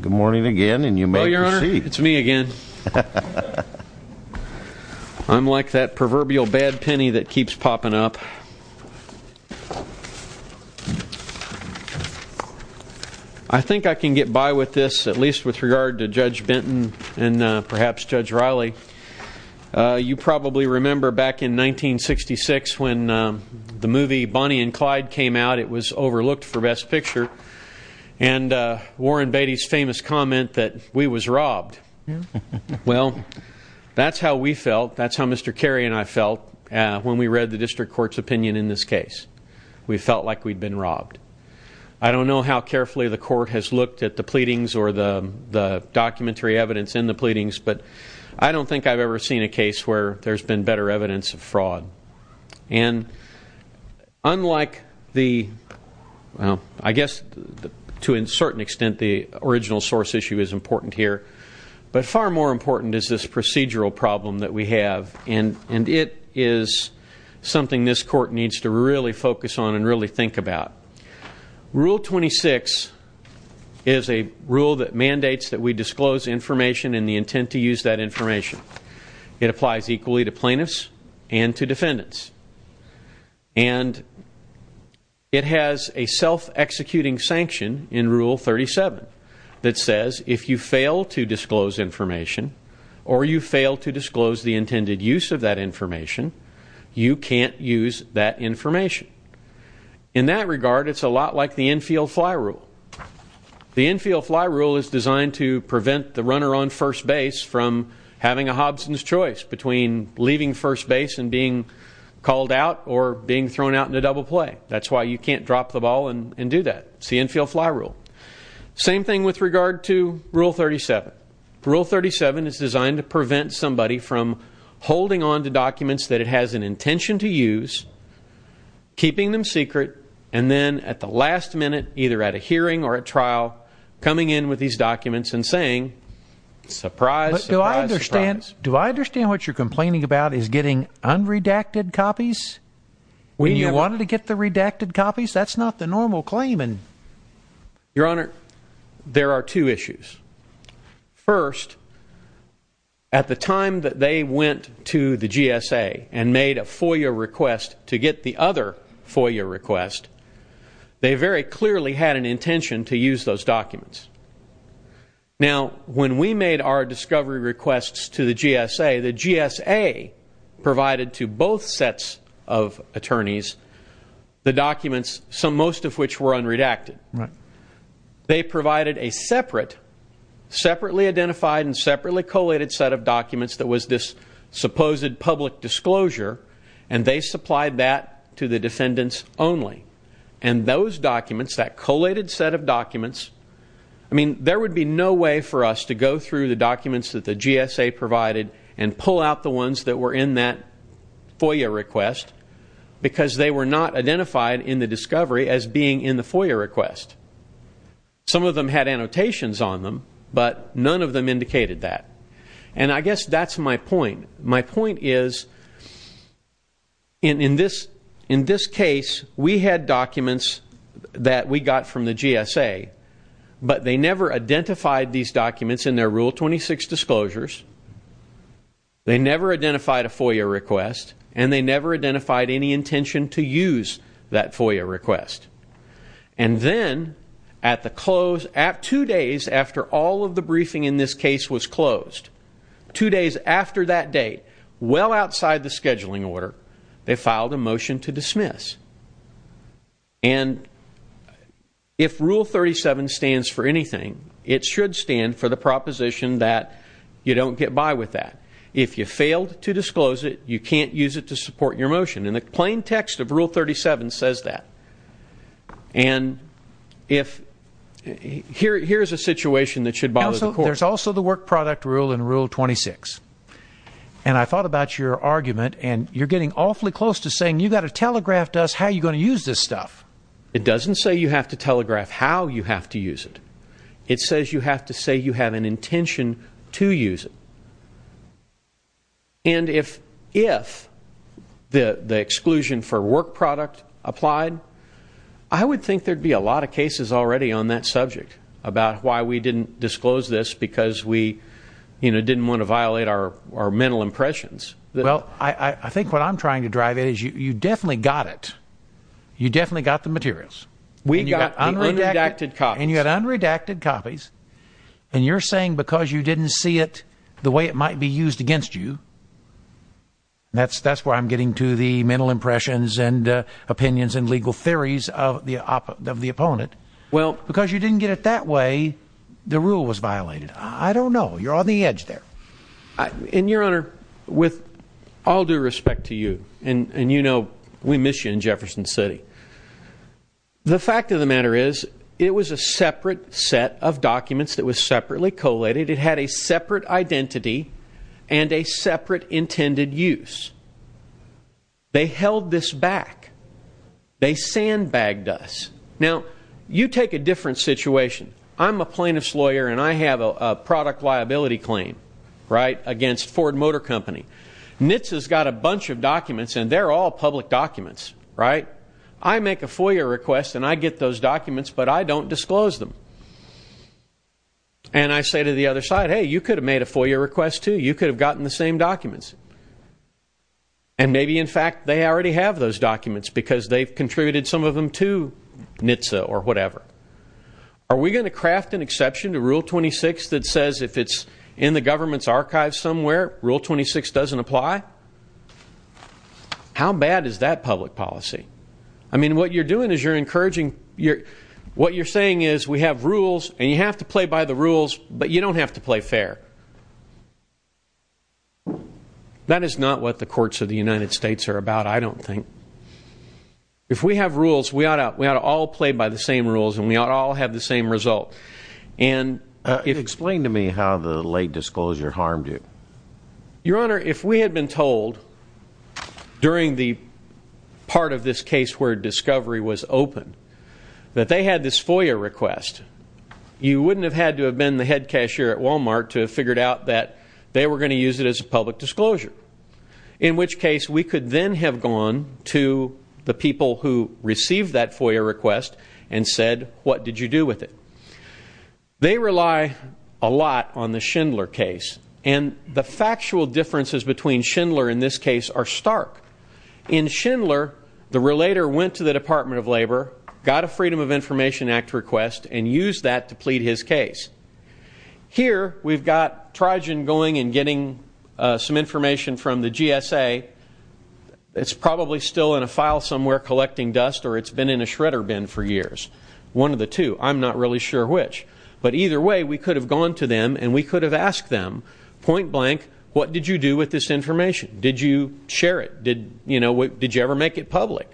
Good morning again, and you may proceed. It's me again. I'm like that proverbial bad penny that keeps popping up. I think I can get by with this, at least with regard to Judge Benton and perhaps Judge Riley. You probably remember back in 1966 when the movie Bonnie and Clyde came out, it was overlooked for best picture, and Warren Beatty's famous comment that we was robbed. Well, that's how we felt. That's how Mr. Carey and I felt when we read the district court's opinion in this case. We felt like we'd been robbed. I don't know how carefully the court has looked at the pleadings or the documentary evidence in the pleadings, but I don't think I've ever seen a case where there's been better evidence of fraud. And unlike the, well, I guess to a certain extent the original source issue is important here, but far more important is this procedural problem that we have, and it is something this court needs to really focus on and really think about. Rule 26 is a rule that mandates that we disclose information in the intent to use that information. It applies equally to plaintiffs and to defendants. And it has a self-executing sanction in Rule 37 that says if you fail to disclose information or you fail to disclose the intended use of that information, you can't use that information. In that regard, it's a lot like the Enfield Fly Rule. The Enfield Fly Rule is designed to prevent the runner on first base from having a Hobson's choice between leaving first base and being called out or being thrown out in a double play. That's why you can't drop the ball and do that. It's the Enfield Fly Rule. Same thing with regard to Rule 37. Rule 37 is designed to prevent somebody from holding onto documents that it has an intention to use, keeping them secret, and then at the last minute, either at a hearing or at trial, coming in with these documents and saying, surprise, surprise, surprise. Do I understand what you're complaining about is getting unredacted copies when you wanted to get the redacted copies? That's not the normal claim. Your Honor, there are two issues. First, at the time that they went to the GSA and made a FOIA request to get the other FOIA request, they very clearly had an intention to use those documents. Now, when we made our discovery requests to the GSA, the GSA provided to both sets of attorneys the documents, most of which were unredacted. They provided a separate, separately identified and separately collated set of documents that was this supposed public disclosure, and they supplied that to the defendants only. And those documents, that collated set of documents, I mean, there would be no way for us to go through the documents that the GSA provided and pull out the ones that were in that FOIA request because they were not identified in the discovery as being in the FOIA request. Some of them had annotations on them, but none of them indicated that. And I guess that's my point. My point is, in this case, we had documents that we got from the GSA, but they never identified these documents in their Rule 26 disclosures, they never identified a FOIA request, and they never identified any intention to use that FOIA request. And then, at the close, at two days after all of the briefing in this case was closed, two days after that date, well outside the scheduling order, they filed a motion to dismiss. And if Rule 37 stands for anything, it should stand for the proposition that you don't get by with that. If you failed to disclose it, you can't use it to support your motion. And the plain text of Rule 37 says that. And if here's a situation that should bother the Court. There's also the work product rule in Rule 26. And I thought about your argument, and you're getting awfully close to saying you've got to telegraph to us how you're going to use this stuff. It doesn't say you have to telegraph how you have to use it. It says you have to say you have an intention to use it. And if the exclusion for work product applied, I would think there'd be a lot of cases already on that subject about why we didn't disclose this because we, you know, didn't want to violate our mental impressions. Well, I think what I'm trying to drive at is you definitely got it. You definitely got the materials. We got unredacted copies. And you had unredacted copies. And you're saying because you didn't see it the way it might be used against you, that's where I'm getting to the mental impressions and opinions and legal theories of the opponent. Because you didn't get it that way, the rule was violated. I don't know. You're on the edge there. And, Your Honor, with all due respect to you, and you know we miss you in Jefferson City, the fact of the matter is it was a separate set of documents that was separately collated. It had a separate identity and a separate intended use. They held this back. They sandbagged us. Now you take a different situation. I'm a plaintiff's lawyer and I have a product liability claim, right, against Ford Motor Company. NHTSA's got a bunch of documents and they're all public documents, right? I make a FOIA request and I get those documents, but I don't disclose them. And I say to the other side, hey, you could have made a FOIA request too. You could have gotten the same documents. And maybe, in fact, they already have those documents because they've contributed some of them to NHTSA or whatever. Are we going to craft an exception to Rule 26 that says if it's in the government's archives somewhere Rule 26 doesn't apply? How bad is that public policy? I mean, what you're doing is you're encouraging, what you're saying is we have rules and you have to play by the rules, but you don't have to play fair. That is not what the courts of the United States are about, I don't think. If we have rules, we ought to all play by the same rules and we ought to all have the same result. Explain to me how the late disclosure harmed you. Your Honor, if we had been told during the part of this case where discovery was open that they had this FOIA request, you wouldn't have had to have been the head cashier at Walmart to have figured out that they were going to use it as a public disclosure. In which case, we could then have gone to the people who received that FOIA request and said, what did you do with it? They rely a lot on the Schindler case and the factual differences between Schindler in this case are stark. In Schindler, the relator went to the Department of Labor, got a Freedom of Information Act request and used that to plead his case. Here we've got Trijan going and getting some information from the GSA. It's probably still in a file somewhere collecting dust or it's been in a shredder bin for years. One of the two. I'm not really sure which. But either way, we could have gone to them and we could have asked them, point blank, what did you do with this information? Did you share it? Did you ever make it public?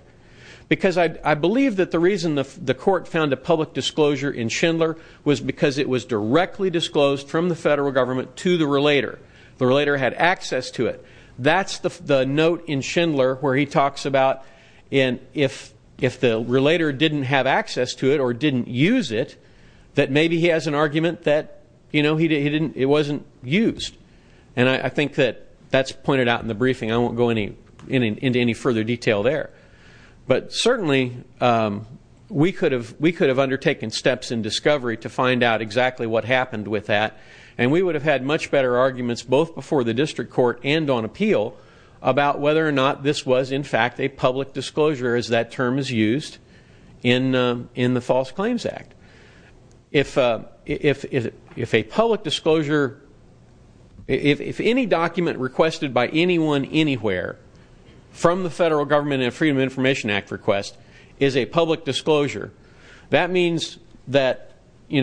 Because I believe that the reason the court found a public disclosure in Schindler was because it was directly disclosed from the federal government to the relator. The relator had access to it. That's the note in Schindler where he talks about if the relator didn't have access to it or didn't use it, that maybe he has an argument that it wasn't used. And I think that that's pointed out in the briefing. I won't go into any further detail there. But certainly, we could have undertaken steps in discovery to find out exactly what happened with that. And we would have had much better arguments both before the district court and on appeal about whether or not this was, in fact, a public disclosure as that term is used in the False Claims Act. If a public disclosure, if any document requested by anyone anywhere from the federal government and Freedom of Information Act request is a public disclosure, that means that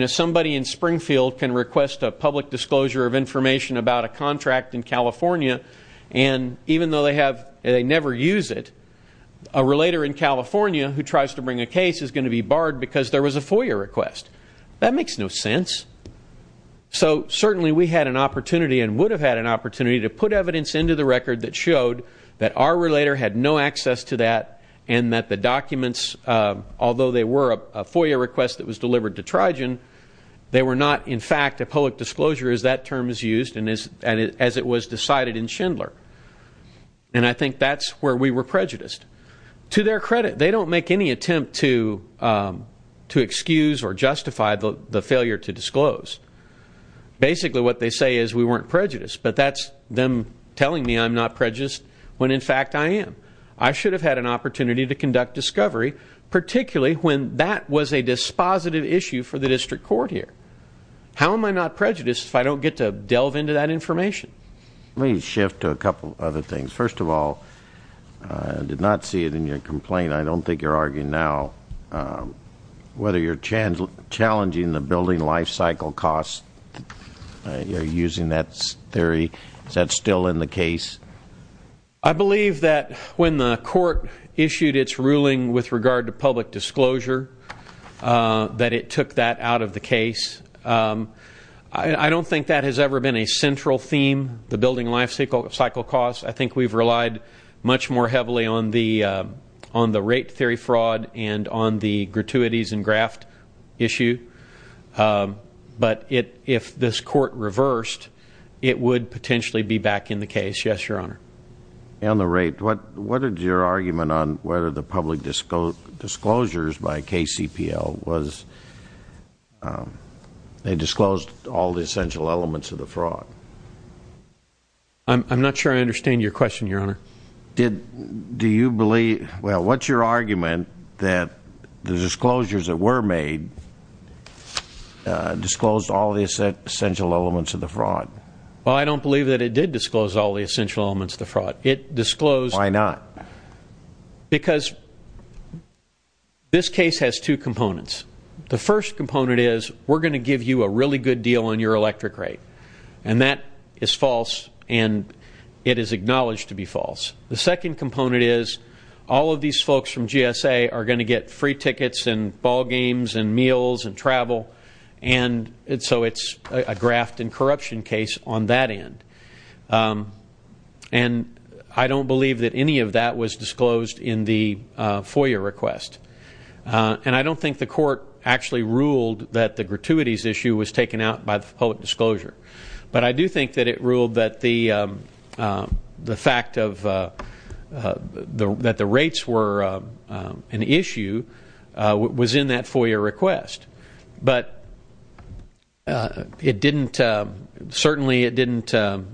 somebody in Springfield can request a public disclosure of information about a contract in California. And even though they never use it, a relator in California who tries to bring a case is going to be barred because there was a FOIA request. That makes no sense. So certainly, we had an opportunity and would have had an opportunity to put evidence into the record that showed that our relator had no access to that and that the documents, although they were a FOIA request that was delivered to Trigen, they were not, in fact, a public disclosure as that term is used and as it was decided in Schindler. And I think that's where we were prejudiced. To their credit, they don't make any attempt to excuse or justify the failure to disclose. Basically, what they say is we weren't prejudiced. But that's them telling me I'm not prejudiced when, in fact, I am. I should have had an opportunity to conduct discovery, particularly when that was a dispositive issue for the district court here. How am I not prejudiced if I don't get to delve into that information? Let me shift to a couple other things. First of all, I did not see it in your complaint. I don't think you're arguing now whether you're challenging the building life cycle costs. Are you using that theory? Is that still in the case? I believe that when the court issued its ruling with regard to public disclosure, that it took that out of the case. I don't think that has ever been a central theme, the building life cycle costs. I think we've relied much more heavily on the rate theory fraud and on the gratuities and graft issue. But if this court reversed, it would potentially be back in the case. Yes, Your Honor. On the rate, what is your argument on whether the public disclosures by KCPL was, they disclosed all the essential elements of the fraud? I'm not sure I understand your question, Your Honor. Do you believe, well, what's your argument that the disclosures that were made disclosed all the essential elements of the fraud? Well, I don't believe that it did disclose all the essential elements of the fraud. It disclosed- Why not? Because this case has two components. The first component is, we're going to give you a really good deal on your electric rate. And that is false, and it is acknowledged to be false. The second component is, all of these folks from GSA are going to get free tickets and on that end. And I don't believe that any of that was disclosed in the FOIA request. And I don't think the court actually ruled that the gratuities issue was taken out by the public disclosure. But I do think that it ruled that the fact of, that the rates were an issue was in that FOIA request. But it didn't, certainly it didn't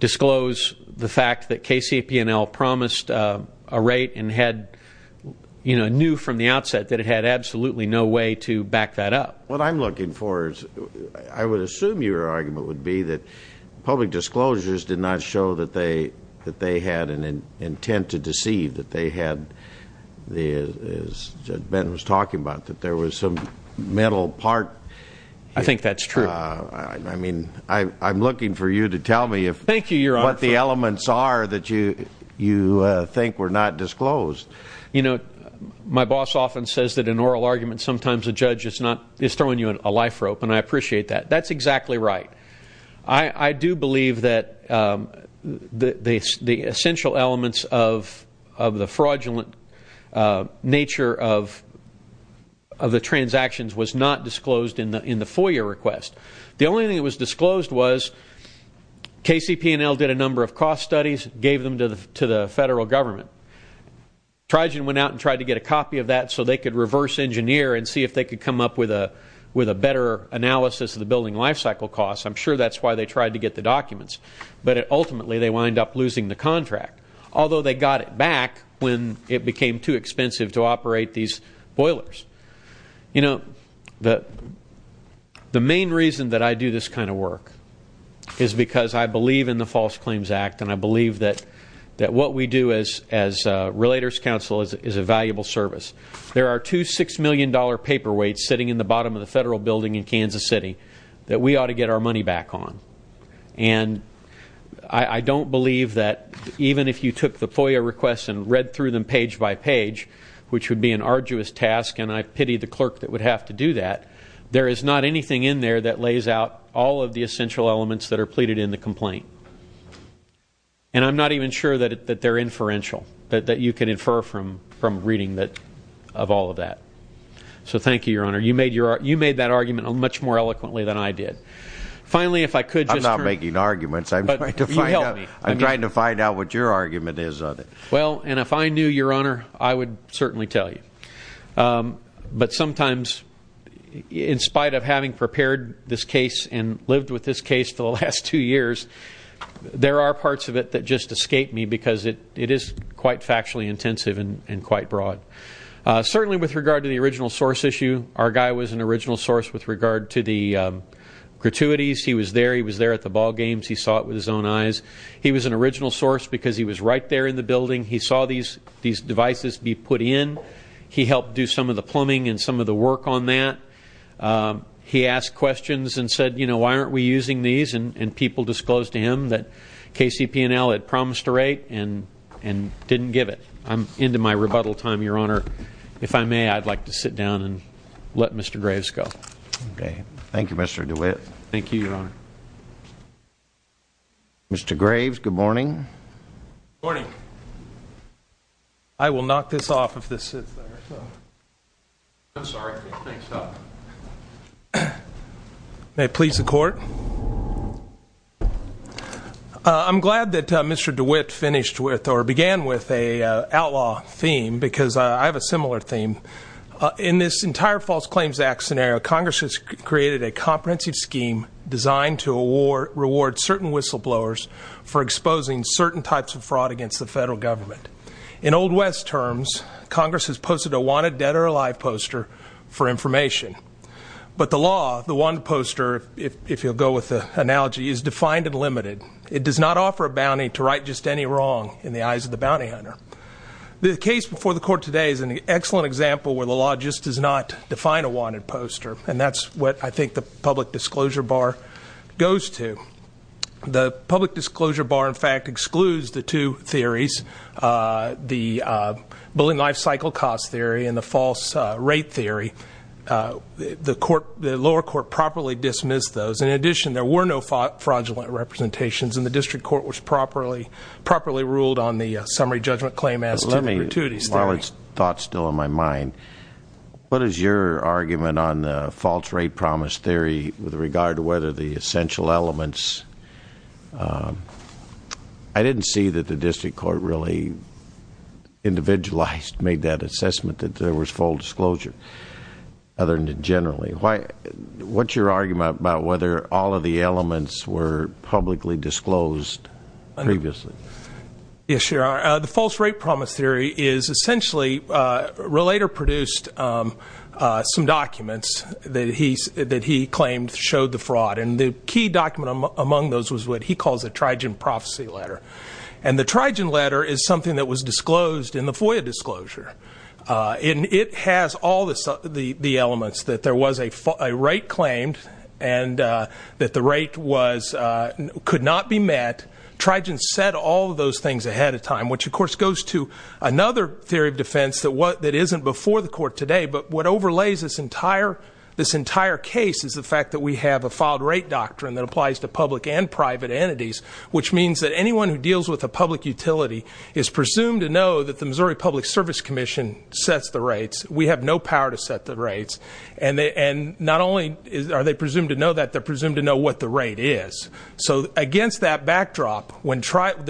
disclose the fact that KCPNL promised a rate and had, you know, knew from the outset that it had absolutely no way to back that up. What I'm looking for is, I would assume your argument would be that public disclosures did not show that they had an intent to deceive, that they had, as Judge Benton was talking about, that there was some mental part. I think that's true. I mean, I'm looking for you to tell me what the elements are that you think were not disclosed. You know, my boss often says that in oral arguments, sometimes a judge is throwing you a life rope, and I appreciate that. That's exactly right. I do believe that the essential elements of the fraudulent nature of the transactions was not disclosed in the FOIA request. The only thing that was disclosed was KCPNL did a number of cost studies, gave them to the Federal Government. Trijan went out and tried to get a copy of that so they could reverse engineer and see if they could come up with a better analysis of the building life cycle costs. I'm sure that's why they tried to get the documents, but ultimately they wind up losing the contract, although they got it back when it became too expensive to operate these boilers. You know, the main reason that I do this kind of work is because I believe in the False Claims Act, and I believe that what we do as Relators Council is a valuable service. There are two $6 million paperweights sitting in the bottom of the Federal Building in Kansas City that we ought to get our money back on. And I don't believe that even if you took the FOIA requests and read through them page by page, which would be an arduous task, and I pity the clerk that would have to do that, there is not anything in there that lays out all of the essential elements that are pleaded in the complaint. And I'm not even sure that they're inferential, that you can infer from reading of all of that. So thank you, Your Honor. You made that argument much more eloquently than I did. Finally if I could just I'm not making arguments. You helped me. I'm trying to find out what your argument is on it. Well, and if I knew, Your Honor, I would certainly tell you. But sometimes, in spite of having prepared this case and lived with this case for the last two years, there are parts of it that just escape me because it is quite factually intensive and quite broad. Certainly with regard to the original source issue, our guy was an original source with regard to the gratuities. He was there. He was there at the ballgames. He saw it with his own eyes. He was an original source because he was right there in the building. He saw these devices be put in. He helped do some of the plumbing and some of the work on that. He asked questions and said, you know, why aren't we using these? And people disclosed to him that KCP&L had promised a rate and didn't give it. I'm into my rebuttal time, Your Honor. If I may, I'd like to sit down and let Mr. Graves go. Okay. Thank you, Mr. DeWitt. Thank you, Your Honor. Mr. Graves, good morning. Good morning. I will knock this off if this sits there. I'm sorry. I think it's up. May it please the court. I'm glad that Mr. DeWitt finished with or began with a outlaw theme because I have a similar theme. In this entire False Claims Act scenario, Congress has created a comprehensive scheme designed to reward certain whistleblowers for exposing certain types of fraud against the federal government. In Old West terms, Congress has posted a wanted dead or alive poster for information. But the law, the wanted poster, if you'll go with the analogy, is defined and limited. It does not offer a bounty to right just any wrong in the eyes of the bounty hunter. The case before the court today is an excellent example where the law just does not define a wanted poster. And that's what I think the public disclosure bar goes to. The public disclosure bar, in fact, excludes the two theories, the Bullying Life Cycle Cost Theory and the False Rate Theory. The lower court properly dismissed those. In addition, there were no fraudulent representations, and the district court was properly ruled on the summary judgment claim as to the gratuity theory. While it's thought still in my mind, what is your argument on the false rate promise theory with regard to whether the essential elements. I didn't see that the district court really individualized, made that assessment that there was full disclosure other than generally. What's your argument about whether all of the elements were publicly disclosed previously? Yes, your honor. The false rate promise theory is essentially Relater produced some documents that he claimed showed the fraud. And the key document among those was what he calls a Trigen Prophecy Letter. And the Trigen Letter is something that was disclosed in the FOIA disclosure. And it has all the elements that there was a rate claimed and that the rate could not be met. Trigen said all of those things ahead of time, which of course goes to another theory of defense that isn't before the court today. But what overlays this entire case is the fact that we have a filed rate doctrine that applies to public and private entities. Which means that anyone who deals with a public utility is presumed to know that the Missouri Public Service Commission sets the rates. We have no power to set the rates. And not only are they presumed to know that, they're presumed to know what the rate is. So against that backdrop, when the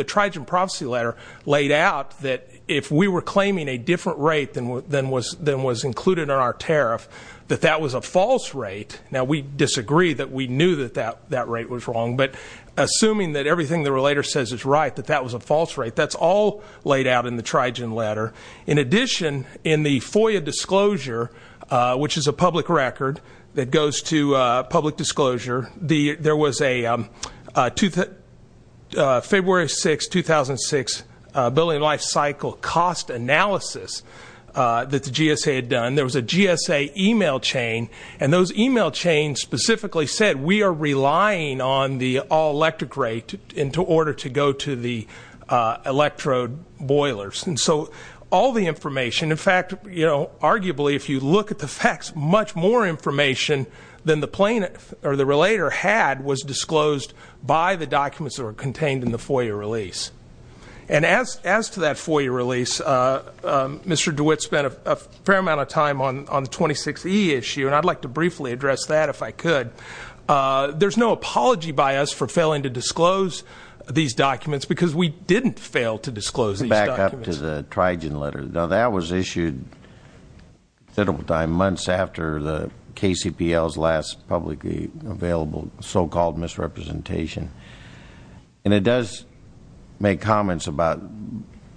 Trigen Prophecy Letter laid out that if we were claiming a different rate than was included in our tariff, that that was a false rate. Now we disagree that we knew that that rate was wrong. But assuming that everything the Relater says is right, that that was a false rate. That's all laid out in the Trigen Letter. In addition, in the FOIA disclosure, which is a public record that goes to public disclosure. There was a February 6, 2006, Building Life Cycle Cost Analysis that the GSA had done. There was a GSA email chain. And those email chains specifically said we are relying on the all electric rate into order to go to the electrode boilers. And so all the information, in fact, arguably if you look at the facts, much more information than the Relater had was disclosed by the documents that were contained in the FOIA release. And as to that FOIA release, Mr. DeWitt spent a fair amount of time on the 26E issue. And I'd like to briefly address that if I could. There's no apology by us for failing to disclose these documents, because we didn't fail to disclose these documents. Let's go to the Trigen Letter. Now that was issued considerable time, months after the KCPL's last publicly available so-called misrepresentation. And it does make comments about,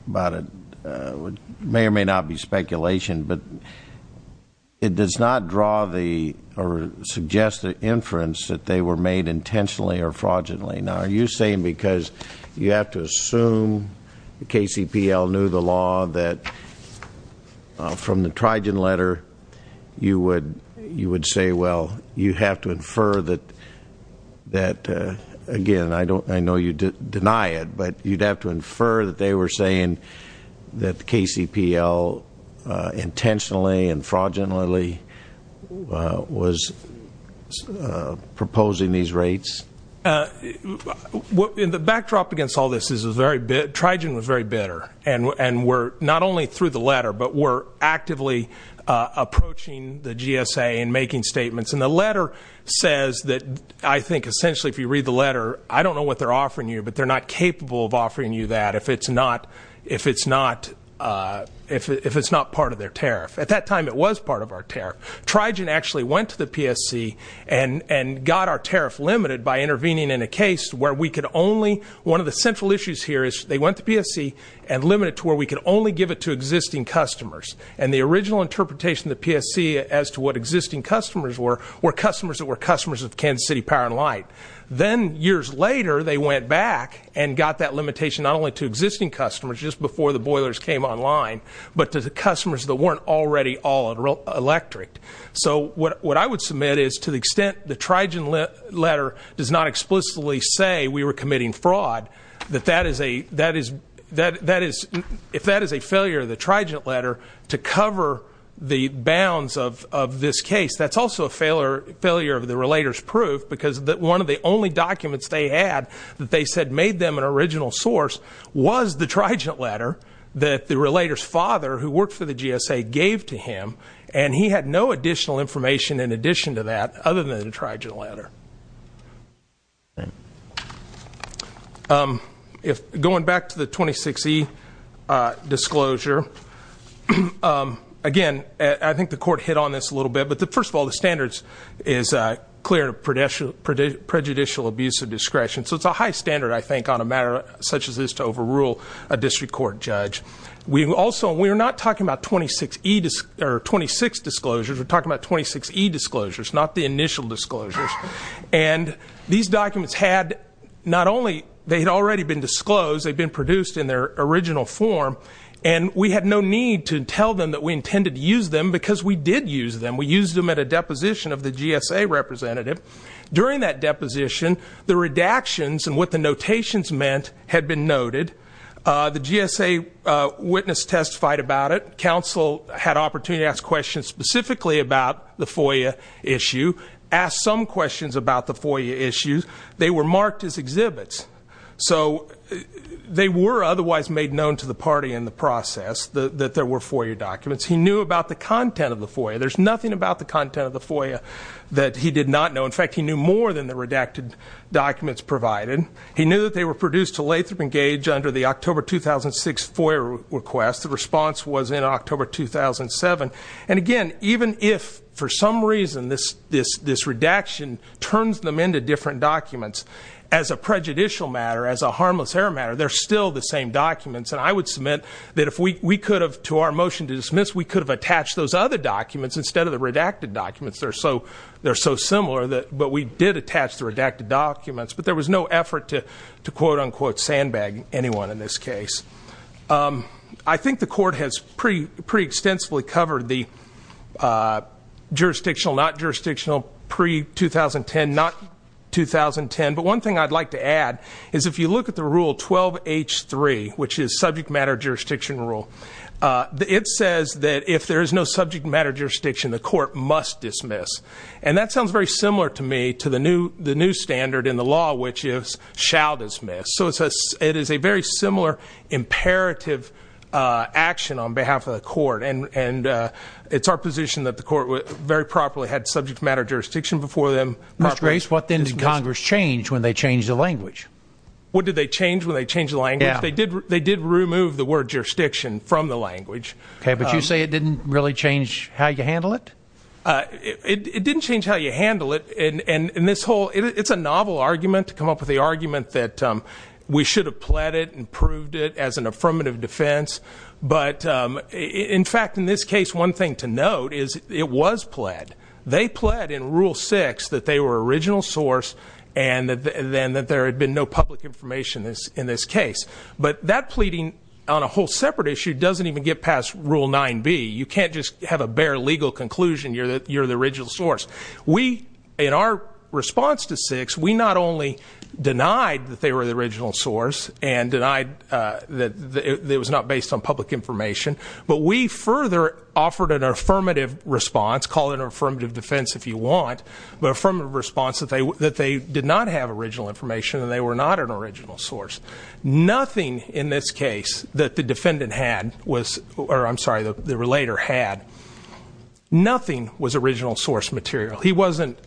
may or may not be speculation, but it does not draw the, or suggest the inference that they were made intentionally or fraudulently. Now are you saying because you have to assume the KCPL knew the law that from the Trigen Letter you would say, well, you have to infer that, that again, I know you deny it, but you'd have to infer that they were saying that the KCPL intentionally and fraudulently was proposing these rates? In the backdrop against all this, Trigen was very bitter. And we're not only through the letter, but we're actively approaching the GSA and making statements. And the letter says that I think essentially if you read the letter, I don't know what they're offering you, but they're not capable of offering you that if it's not part of their tariff. Trigen actually went to the PSC and got our tariff limited by intervening in a case where we could only, one of the central issues here is they went to PSC and limited to where we could only give it to existing customers. And the original interpretation of the PSC as to what existing customers were, were customers that were customers of Kansas City Power and Light. Then years later, they went back and got that limitation not only to existing customers, just before the boilers came online, but to the customers that weren't already all electric. So what I would submit is to the extent the Trigen letter does not explicitly say we were committing fraud, that if that is a failure of the Trigen letter to cover the bounds of this case, that's also a failure of the relator's proof because one of the only documents they had that they said made them an original source was the Trigen letter that the relator's father, who worked for the GSA, gave to him, and he had no additional information in addition to that other than the Trigen letter. Going back to the 26E disclosure, again, I think the court hit on this a little bit. But first of all, the standards is clear of prejudicial abuse of discretion. So it's a high standard, I think, on a matter such as this to overrule a district court judge. We also, we're not talking about 26 disclosures, we're talking about 26E disclosures, not the initial disclosures. And these documents had not only, they had already been disclosed, they'd been produced in their original form. And we had no need to tell them that we intended to use them because we did use them. We used them at a deposition of the GSA representative. During that deposition, the redactions and what the notations meant had been noted. The GSA witness testified about it. Council had opportunity to ask questions specifically about the FOIA issue. Asked some questions about the FOIA issues. They were marked as exhibits. So they were otherwise made known to the party in the process that there were FOIA documents. He knew about the content of the FOIA. There's nothing about the content of the FOIA that he did not know. In fact, he knew more than the redacted documents provided. He knew that they were produced to Lathrop and Gage under the October 2006 FOIA request. The response was in October 2007. And again, even if, for some reason, this redaction turns them into different documents. As a prejudicial matter, as a harmless error matter, they're still the same documents. And I would submit that if we could have, to our motion to dismiss, we could have attached those other documents instead of the redacted documents. They're so similar, but we did attach the redacted documents. But there was no effort to quote unquote sandbag anyone in this case. I think the court has pretty extensively covered the jurisdictional, not jurisdictional, pre-2010, not 2010. But one thing I'd like to add is if you look at the rule 12H3, which is subject matter jurisdiction rule. It says that if there is no subject matter jurisdiction, the court must dismiss. And that sounds very similar to me to the new standard in the law, which is shall dismiss. So it is a very similar imperative action on behalf of the court. And it's our position that the court very properly had subject matter jurisdiction before them. Mr. Grace, what then did Congress change when they changed the language? What did they change when they changed the language? They did remove the word jurisdiction from the language. Okay, but you say it didn't really change how you handle it? It didn't change how you handle it. And this whole, it's a novel argument to come up with the argument that we should have pled it and proved it as an affirmative defense, but in fact, in this case, one thing to note is it was pled. They pled in rule six that they were original source and that there had been no public information in this case. But that pleading on a whole separate issue doesn't even get past rule 9B. You can't just have a bare legal conclusion, you're the original source. We, in our response to six, we not only denied that they were the original source and denied that it was not based on public information, but we further offered an affirmative response, call it an affirmative defense if you want, but from a response that they did not have original information and they were not an original source. Nothing in this case that the defendant had was, or I'm sorry, the relator had. Nothing was original source material. He wasn't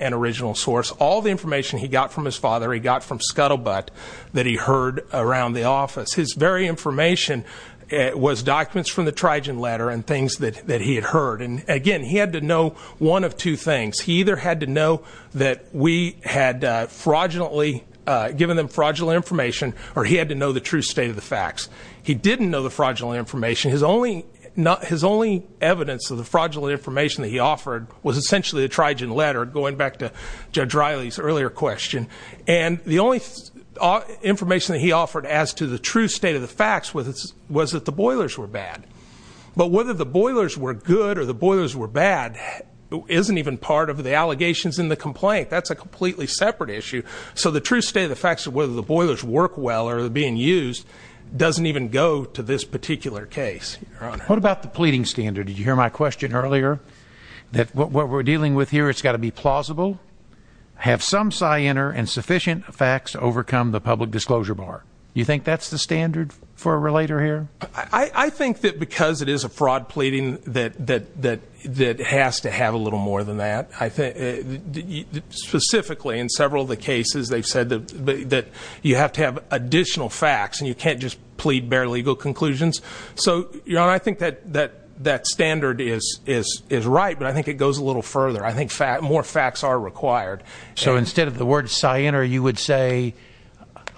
an original source. All the information he got from his father, he got from Scuttlebutt that he heard around the office. His very information was documents from the Trigen letter and things that he had heard. And again, he had to know one of two things. He either had to know that we had given them fraudulent information, or he had to know the true state of the facts. He didn't know the fraudulent information. His only evidence of the fraudulent information that he offered was essentially the Trigen letter, going back to Judge Riley's earlier question, and the only information that he had, the true state of the facts, was that the boilers were bad. But whether the boilers were good or the boilers were bad isn't even part of the allegations in the complaint. That's a completely separate issue. So the true state of the facts of whether the boilers work well or are being used doesn't even go to this particular case, Your Honor. What about the pleading standard? Did you hear my question earlier? That what we're dealing with here, it's got to be plausible. Have some scienter and sufficient facts to overcome the public disclosure bar. You think that's the standard for a relator here? I think that because it is a fraud pleading that has to have a little more than that. Specifically, in several of the cases, they've said that you have to have additional facts, and you can't just plead bare legal conclusions. So, Your Honor, I think that standard is right, but I think it goes a little further. I think more facts are required. So instead of the word scienter, you would say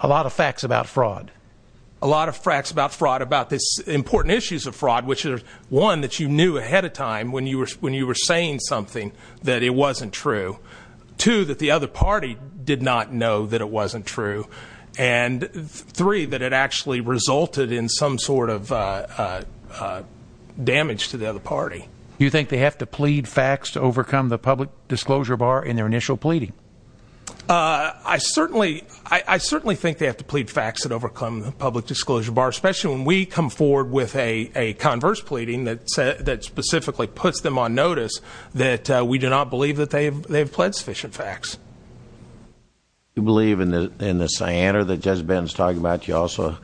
a lot of facts about fraud. A lot of facts about fraud about this important issues of fraud, which are one, that you knew ahead of time when you were saying something that it wasn't true. Two, that the other party did not know that it wasn't true. And three, that it actually resulted in some sort of damage to the other party. Do you think they have to plead facts to overcome the public disclosure bar in their initial pleading? I certainly think they have to plead facts that overcome the public disclosure bar, especially when we come forward with a converse pleading that specifically puts them on notice that we do not believe that they have pled sufficient facts. You believe in the scienter that Judge Ben is talking about, you also,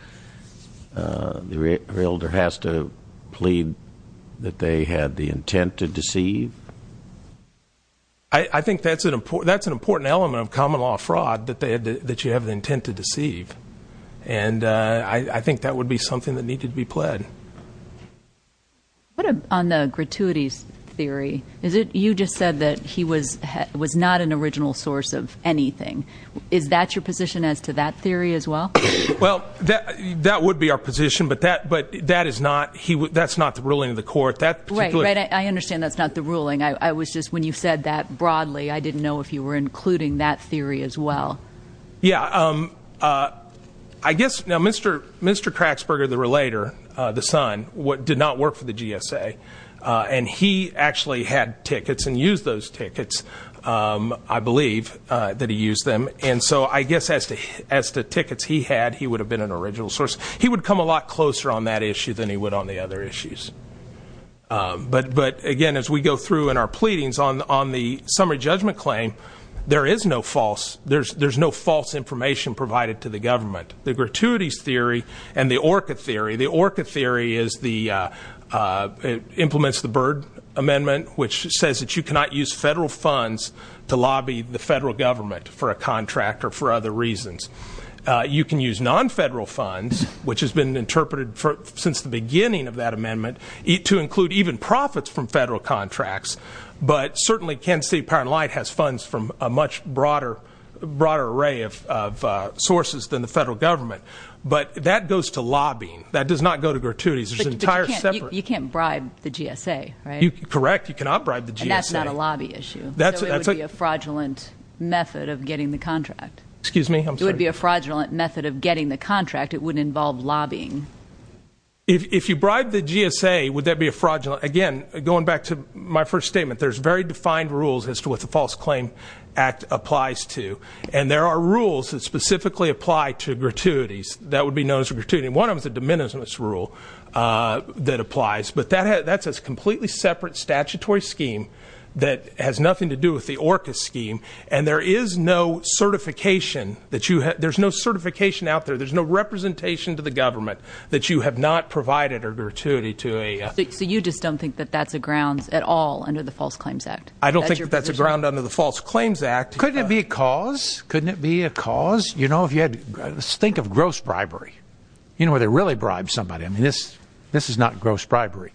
the realtor has to plead that they had the intent to deceive? I think that's an important element of common law fraud, that you have the intent to deceive. And I think that would be something that needed to be pled. But on the gratuity theory, you just said that he was not an original source of anything. Is that your position as to that theory as well? Well, that would be our position, but that is not, that's not the ruling of the court. That particular- Right, right, I understand that's not the ruling. I was just, when you said that broadly, I didn't know if you were including that theory as well. Yeah, I guess, now Mr. Krachsberger, the relator, the son, did not work for the GSA, and he actually had tickets and used those tickets, I believe, that he used them. And so, I guess, as to tickets he had, he would have been an original source. He would come a lot closer on that issue than he would on the other issues. But again, as we go through in our pleadings, on the summary judgment claim, there is no false, there's no false information provided to the government. The gratuities theory and the ORCA theory. The ORCA theory is the, implements the Byrd Amendment, which says that you cannot use federal funds to lobby the federal government for a contract or for other reasons. You can use non-federal funds, which has been interpreted since the beginning of that amendment, to include even profits from federal contracts, but certainly, Kansas City Power and Light has funds from a much broader array of sources than the federal government. But that goes to lobbying. That does not go to gratuities. There's an entire separate- You can't bribe the GSA, right? Correct, you cannot bribe the GSA. And that's not a lobby issue. So it would be a fraudulent method of getting the contract. Excuse me, I'm sorry. It would be a fraudulent method of getting the contract. It wouldn't involve lobbying. If you bribe the GSA, would that be a fraudulent, again, going back to my first statement, there's very defined rules as to what the False Claim Act applies to. I mean, one of them is a de minimis rule that applies. But that's a completely separate statutory scheme that has nothing to do with the ORCA scheme. And there is no certification, there's no certification out there, there's no representation to the government that you have not provided a gratuity to a- So you just don't think that that's a grounds at all under the False Claims Act? I don't think that's a ground under the False Claims Act. Couldn't it be a cause? You know, if you had to think of gross bribery, you know, where they really bribe somebody. I mean, this is not gross bribery.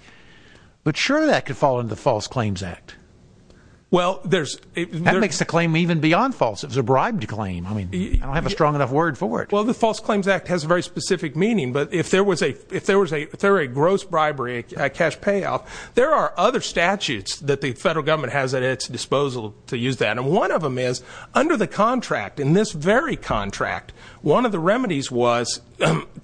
But sure, that could fall under the False Claims Act. Well, there's- That makes the claim even beyond false. It's a bribed claim. I mean, I don't have a strong enough word for it. Well, the False Claims Act has a very specific meaning. But if there were a gross bribery, a cash payoff, there are other statutes that the federal government has at its disposal to use that. And one of them is, under the contract, in this very contract, one of the remedies was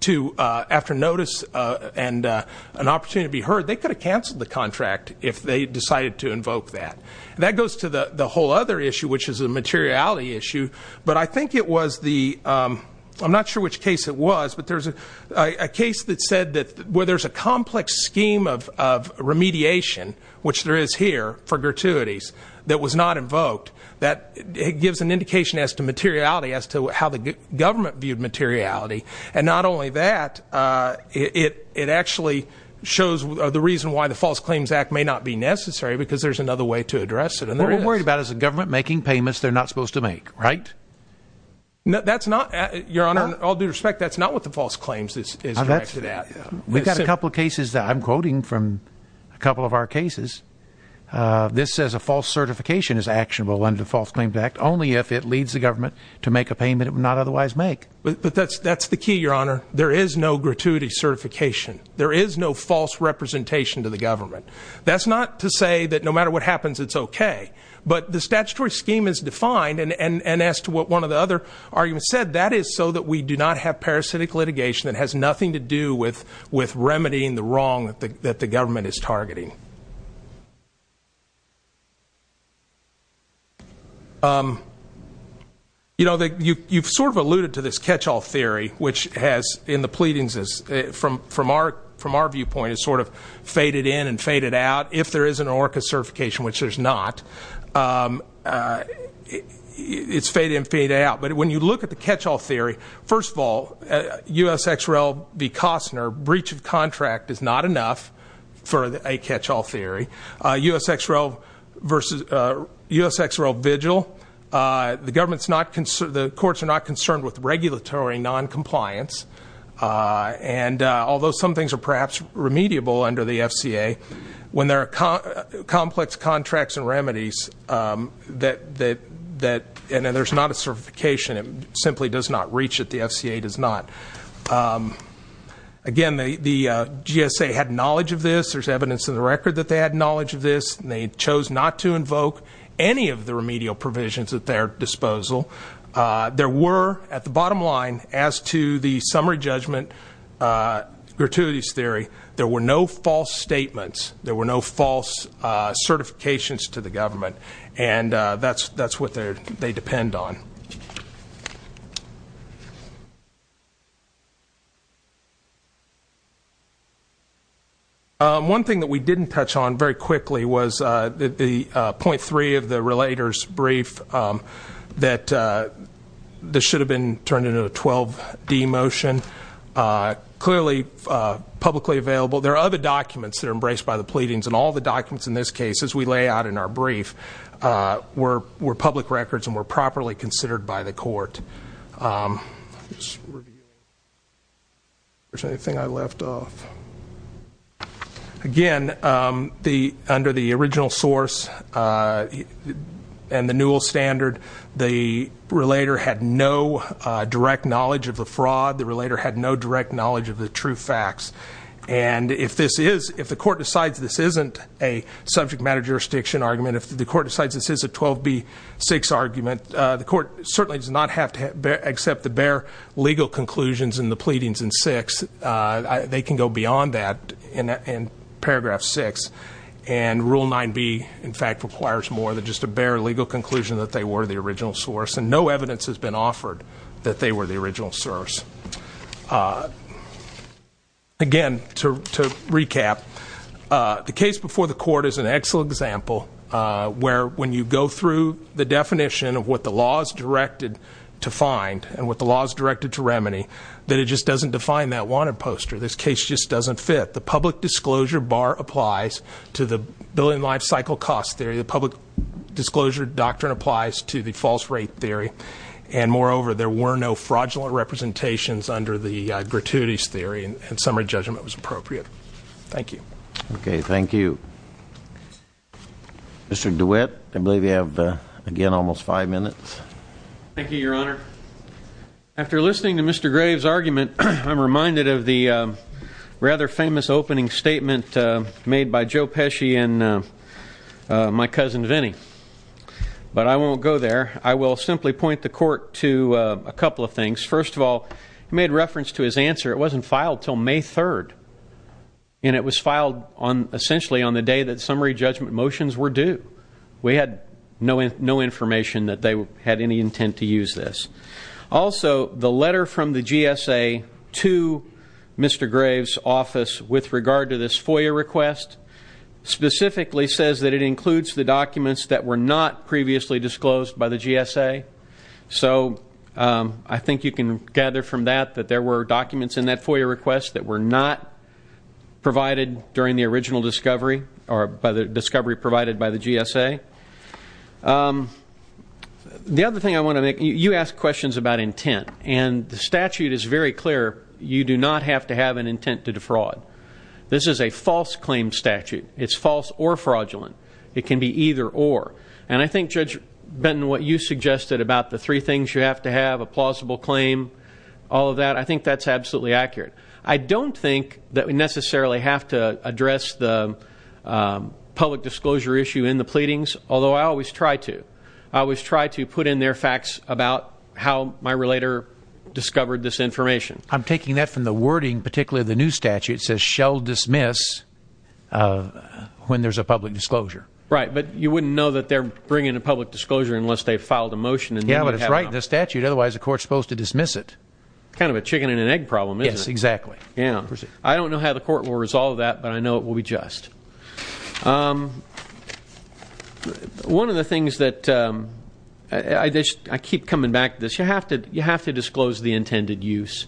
to, after notice and an opportunity to be heard, they could have canceled the contract if they decided to invoke that. That goes to the whole other issue, which is a materiality issue. But I think it was the, I'm not sure which case it was, but there's a case that said that where there's a complex scheme of remediation, which there is here for gratuities, that was not invoked, that it gives an indication as to materiality, as to how the government viewed materiality. And not only that, it actually shows the reason why the False Claims Act may not be necessary, because there's another way to address it. And there is. What we're worried about is the government making payments they're not supposed to make, right? That's not, your honor, all due respect, that's not what the False Claims Act is directed at. We've got a couple of cases that I'm quoting from a couple of our cases. This says a false certification is actionable under the False Claims Act, only if it leads the government to make a payment it would not otherwise make. But that's the key, your honor. There is no gratuity certification. There is no false representation to the government. That's not to say that no matter what happens, it's okay. But the statutory scheme is defined, and as to what one of the other arguments said, that is so that we do not have parasitic litigation that has nothing to do with, with remedying the wrong that the, that the government is targeting. You know, the, you, you've sort of alluded to this catch-all theory, which has, in the pleadings, is from, from our, from our viewpoint, is sort of faded in and faded out. If there is an ORCA certification, which there's not, it's faded in, faded out. But when you look at the catch-all theory, first of all, USXREL v. Costner, breach of contract is not enough for a catch-all theory. USXREL versus, USXREL vigil, the government's not concerned, the courts are not concerned with regulatory non-compliance, and although some things are perhaps remediable under the FCA, when there are complex contracts and that, and then there's not a certification, it simply does not reach it, the FCA does not. Again, the, the GSA had knowledge of this, there's evidence in the record that they had knowledge of this, and they chose not to invoke any of the remedial provisions at their disposal. There were, at the bottom line, as to the summary judgment, gratuities theory, there were no false statements, there were no false certifications to the government. And that's, that's what they're, they depend on. One thing that we didn't touch on very quickly was the, the 0.3 of the relator's brief, that this should have been turned into a 12D motion. Clearly, publicly available. Well, there are other documents that are embraced by the pleadings, and all the documents in this case, as we lay out in our brief, were, were public records and were properly considered by the court. Let's review, if there's anything I left off. Again, the, under the original source and the newel standard, the relator had no direct knowledge of the fraud. The relator had no direct knowledge of the true facts. And if this is, if the court decides this isn't a subject matter jurisdiction argument, if the court decides this is a 12B6 argument, the court certainly does not have to accept the bare legal conclusions in the pleadings in six, they can go beyond that in paragraph six. And rule 9B, in fact, requires more than just a bare legal conclusion that they were the original source. And no evidence has been offered that they were the original source. Again, to recap, the case before the court is an excellent example. Where when you go through the definition of what the law is directed to find and what the law is directed to remedy, that it just doesn't define that wanted poster. This case just doesn't fit. The public disclosure bar applies to the building life cycle cost theory. The public disclosure doctrine applies to the false rate theory. And moreover, there were no fraudulent representations under the gratuities theory, and summary judgment was appropriate. Thank you. Okay, thank you. Mr. DeWitt, I believe you have, again, almost five minutes. Thank you, your honor. After listening to Mr. Graves' argument, I'm reminded of the rather famous opening statement made by Joe Pesci and my cousin Vinnie, but I won't go there. I will simply point the court to a couple of things. First of all, he made reference to his answer. It wasn't filed until May 3rd, and it was filed essentially on the day that summary judgment motions were due. We had no information that they had any intent to use this. Also, the letter from the GSA to Mr. Graves' office with regard to this FOIA request specifically says that it includes the documents that were not previously disclosed by the GSA. So I think you can gather from that that there were documents in that FOIA request that were not provided during the original discovery, or by the discovery provided by the GSA. The other thing I want to make, you asked questions about intent, and the statute is very clear. You do not have to have an intent to defraud. This is a false claim statute. It's false or fraudulent. It can be either or. And I think Judge Benton, what you suggested about the three things you have to have, a plausible claim, all of that, I think that's absolutely accurate. I don't think that we necessarily have to address the public disclosure issue in the pleadings, although I always try to, I always try to put in there facts about how my relator discovered this information. I'm taking that from the wording, particularly the new statute, it says shall dismiss when there's a public disclosure. Right, but you wouldn't know that they're bringing a public disclosure unless they filed a motion. Yeah, but it's right in the statute, otherwise the court's supposed to dismiss it. Kind of a chicken and an egg problem, isn't it? Yes, exactly. Yeah. I don't know how the court will resolve that, but I know it will be just. One of the things that, I keep coming back to this, you have to disclose the intended use.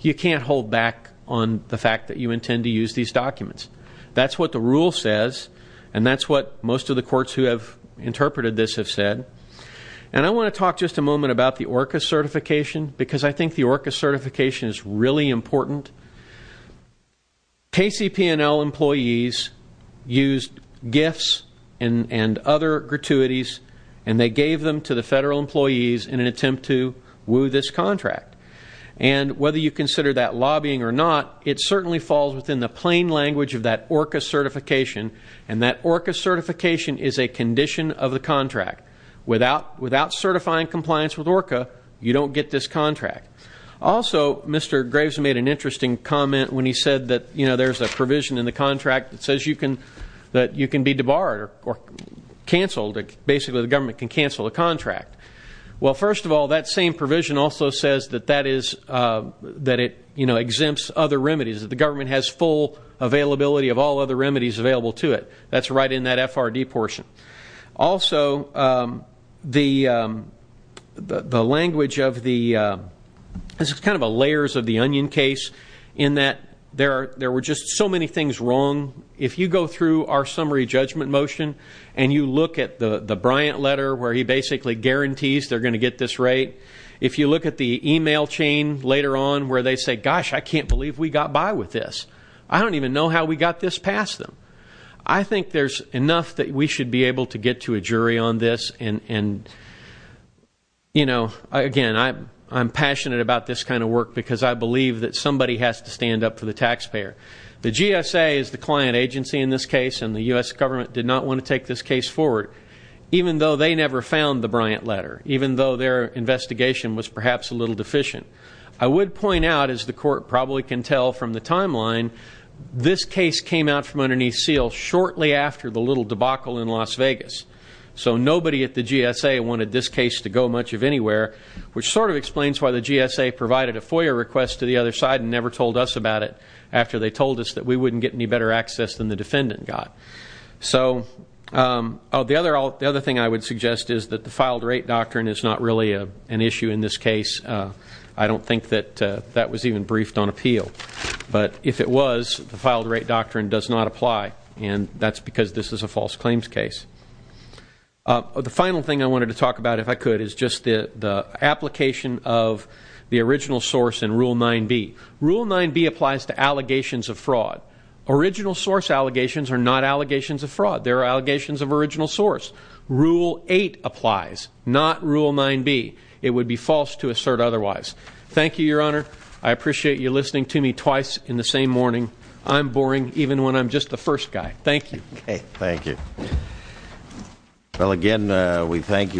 You can't hold back on the fact that you intend to use these documents. That's what the rule says, and that's what most of the courts who have interpreted this have said. And I want to talk just a moment about the ORCA certification, because I think the ORCA certification is really important. KCPNL employees used gifts and other gratuities, and they gave them to the federal employees in an attempt to woo this contract. And whether you consider that lobbying or not, it certainly falls within the plain language of that ORCA certification. And that ORCA certification is a condition of the contract. Without certifying compliance with ORCA, you don't get this contract. Also, Mr. Graves made an interesting comment when he said that there's a provision in the contract that says you can be debarred or canceled. Basically, the government can cancel the contract. Well, first of all, that same provision also says that it exempts other remedies, that the government has full availability of all other remedies available to it. That's right in that FRD portion. Also, the language of the, this is kind of a layers of the onion case. In that, there were just so many things wrong. If you go through our summary judgment motion, and you look at the Bryant letter, where he basically guarantees they're going to get this right. If you look at the email chain later on, where they say, gosh, I can't believe we got by with this. I don't even know how we got this past them. I think there's enough that we should be able to get to a jury on this. And again, I'm passionate about this kind of work because I believe that somebody has to stand up for the taxpayer. The GSA is the client agency in this case, and the US government did not want to take this case forward. Even though they never found the Bryant letter, even though their investigation was perhaps a little deficient. I would point out, as the court probably can tell from the timeline, this case came out from underneath seal shortly after the little debacle in Las Vegas. So nobody at the GSA wanted this case to go much of anywhere, which sort of explains why the GSA provided a FOIA request to the other side and never told us about it after they told us that we wouldn't get any better access than the defendant got. So, the other thing I would suggest is that the filed rate doctrine is not really an issue in this case. I don't think that that was even briefed on appeal. But if it was, the filed rate doctrine does not apply, and that's because this is a false claims case. The final thing I wanted to talk about, if I could, is just the application of the original source in Rule 9B. Rule 9B applies to allegations of fraud. Original source allegations are not allegations of fraud. They're allegations of original source. Rule 8 applies, not Rule 9B. It would be false to assert otherwise. Thank you, your honor. I appreciate you listening to me twice in the same morning. I'm boring, even when I'm just the first guy. Thank you. Thank you. Well again, we thank you.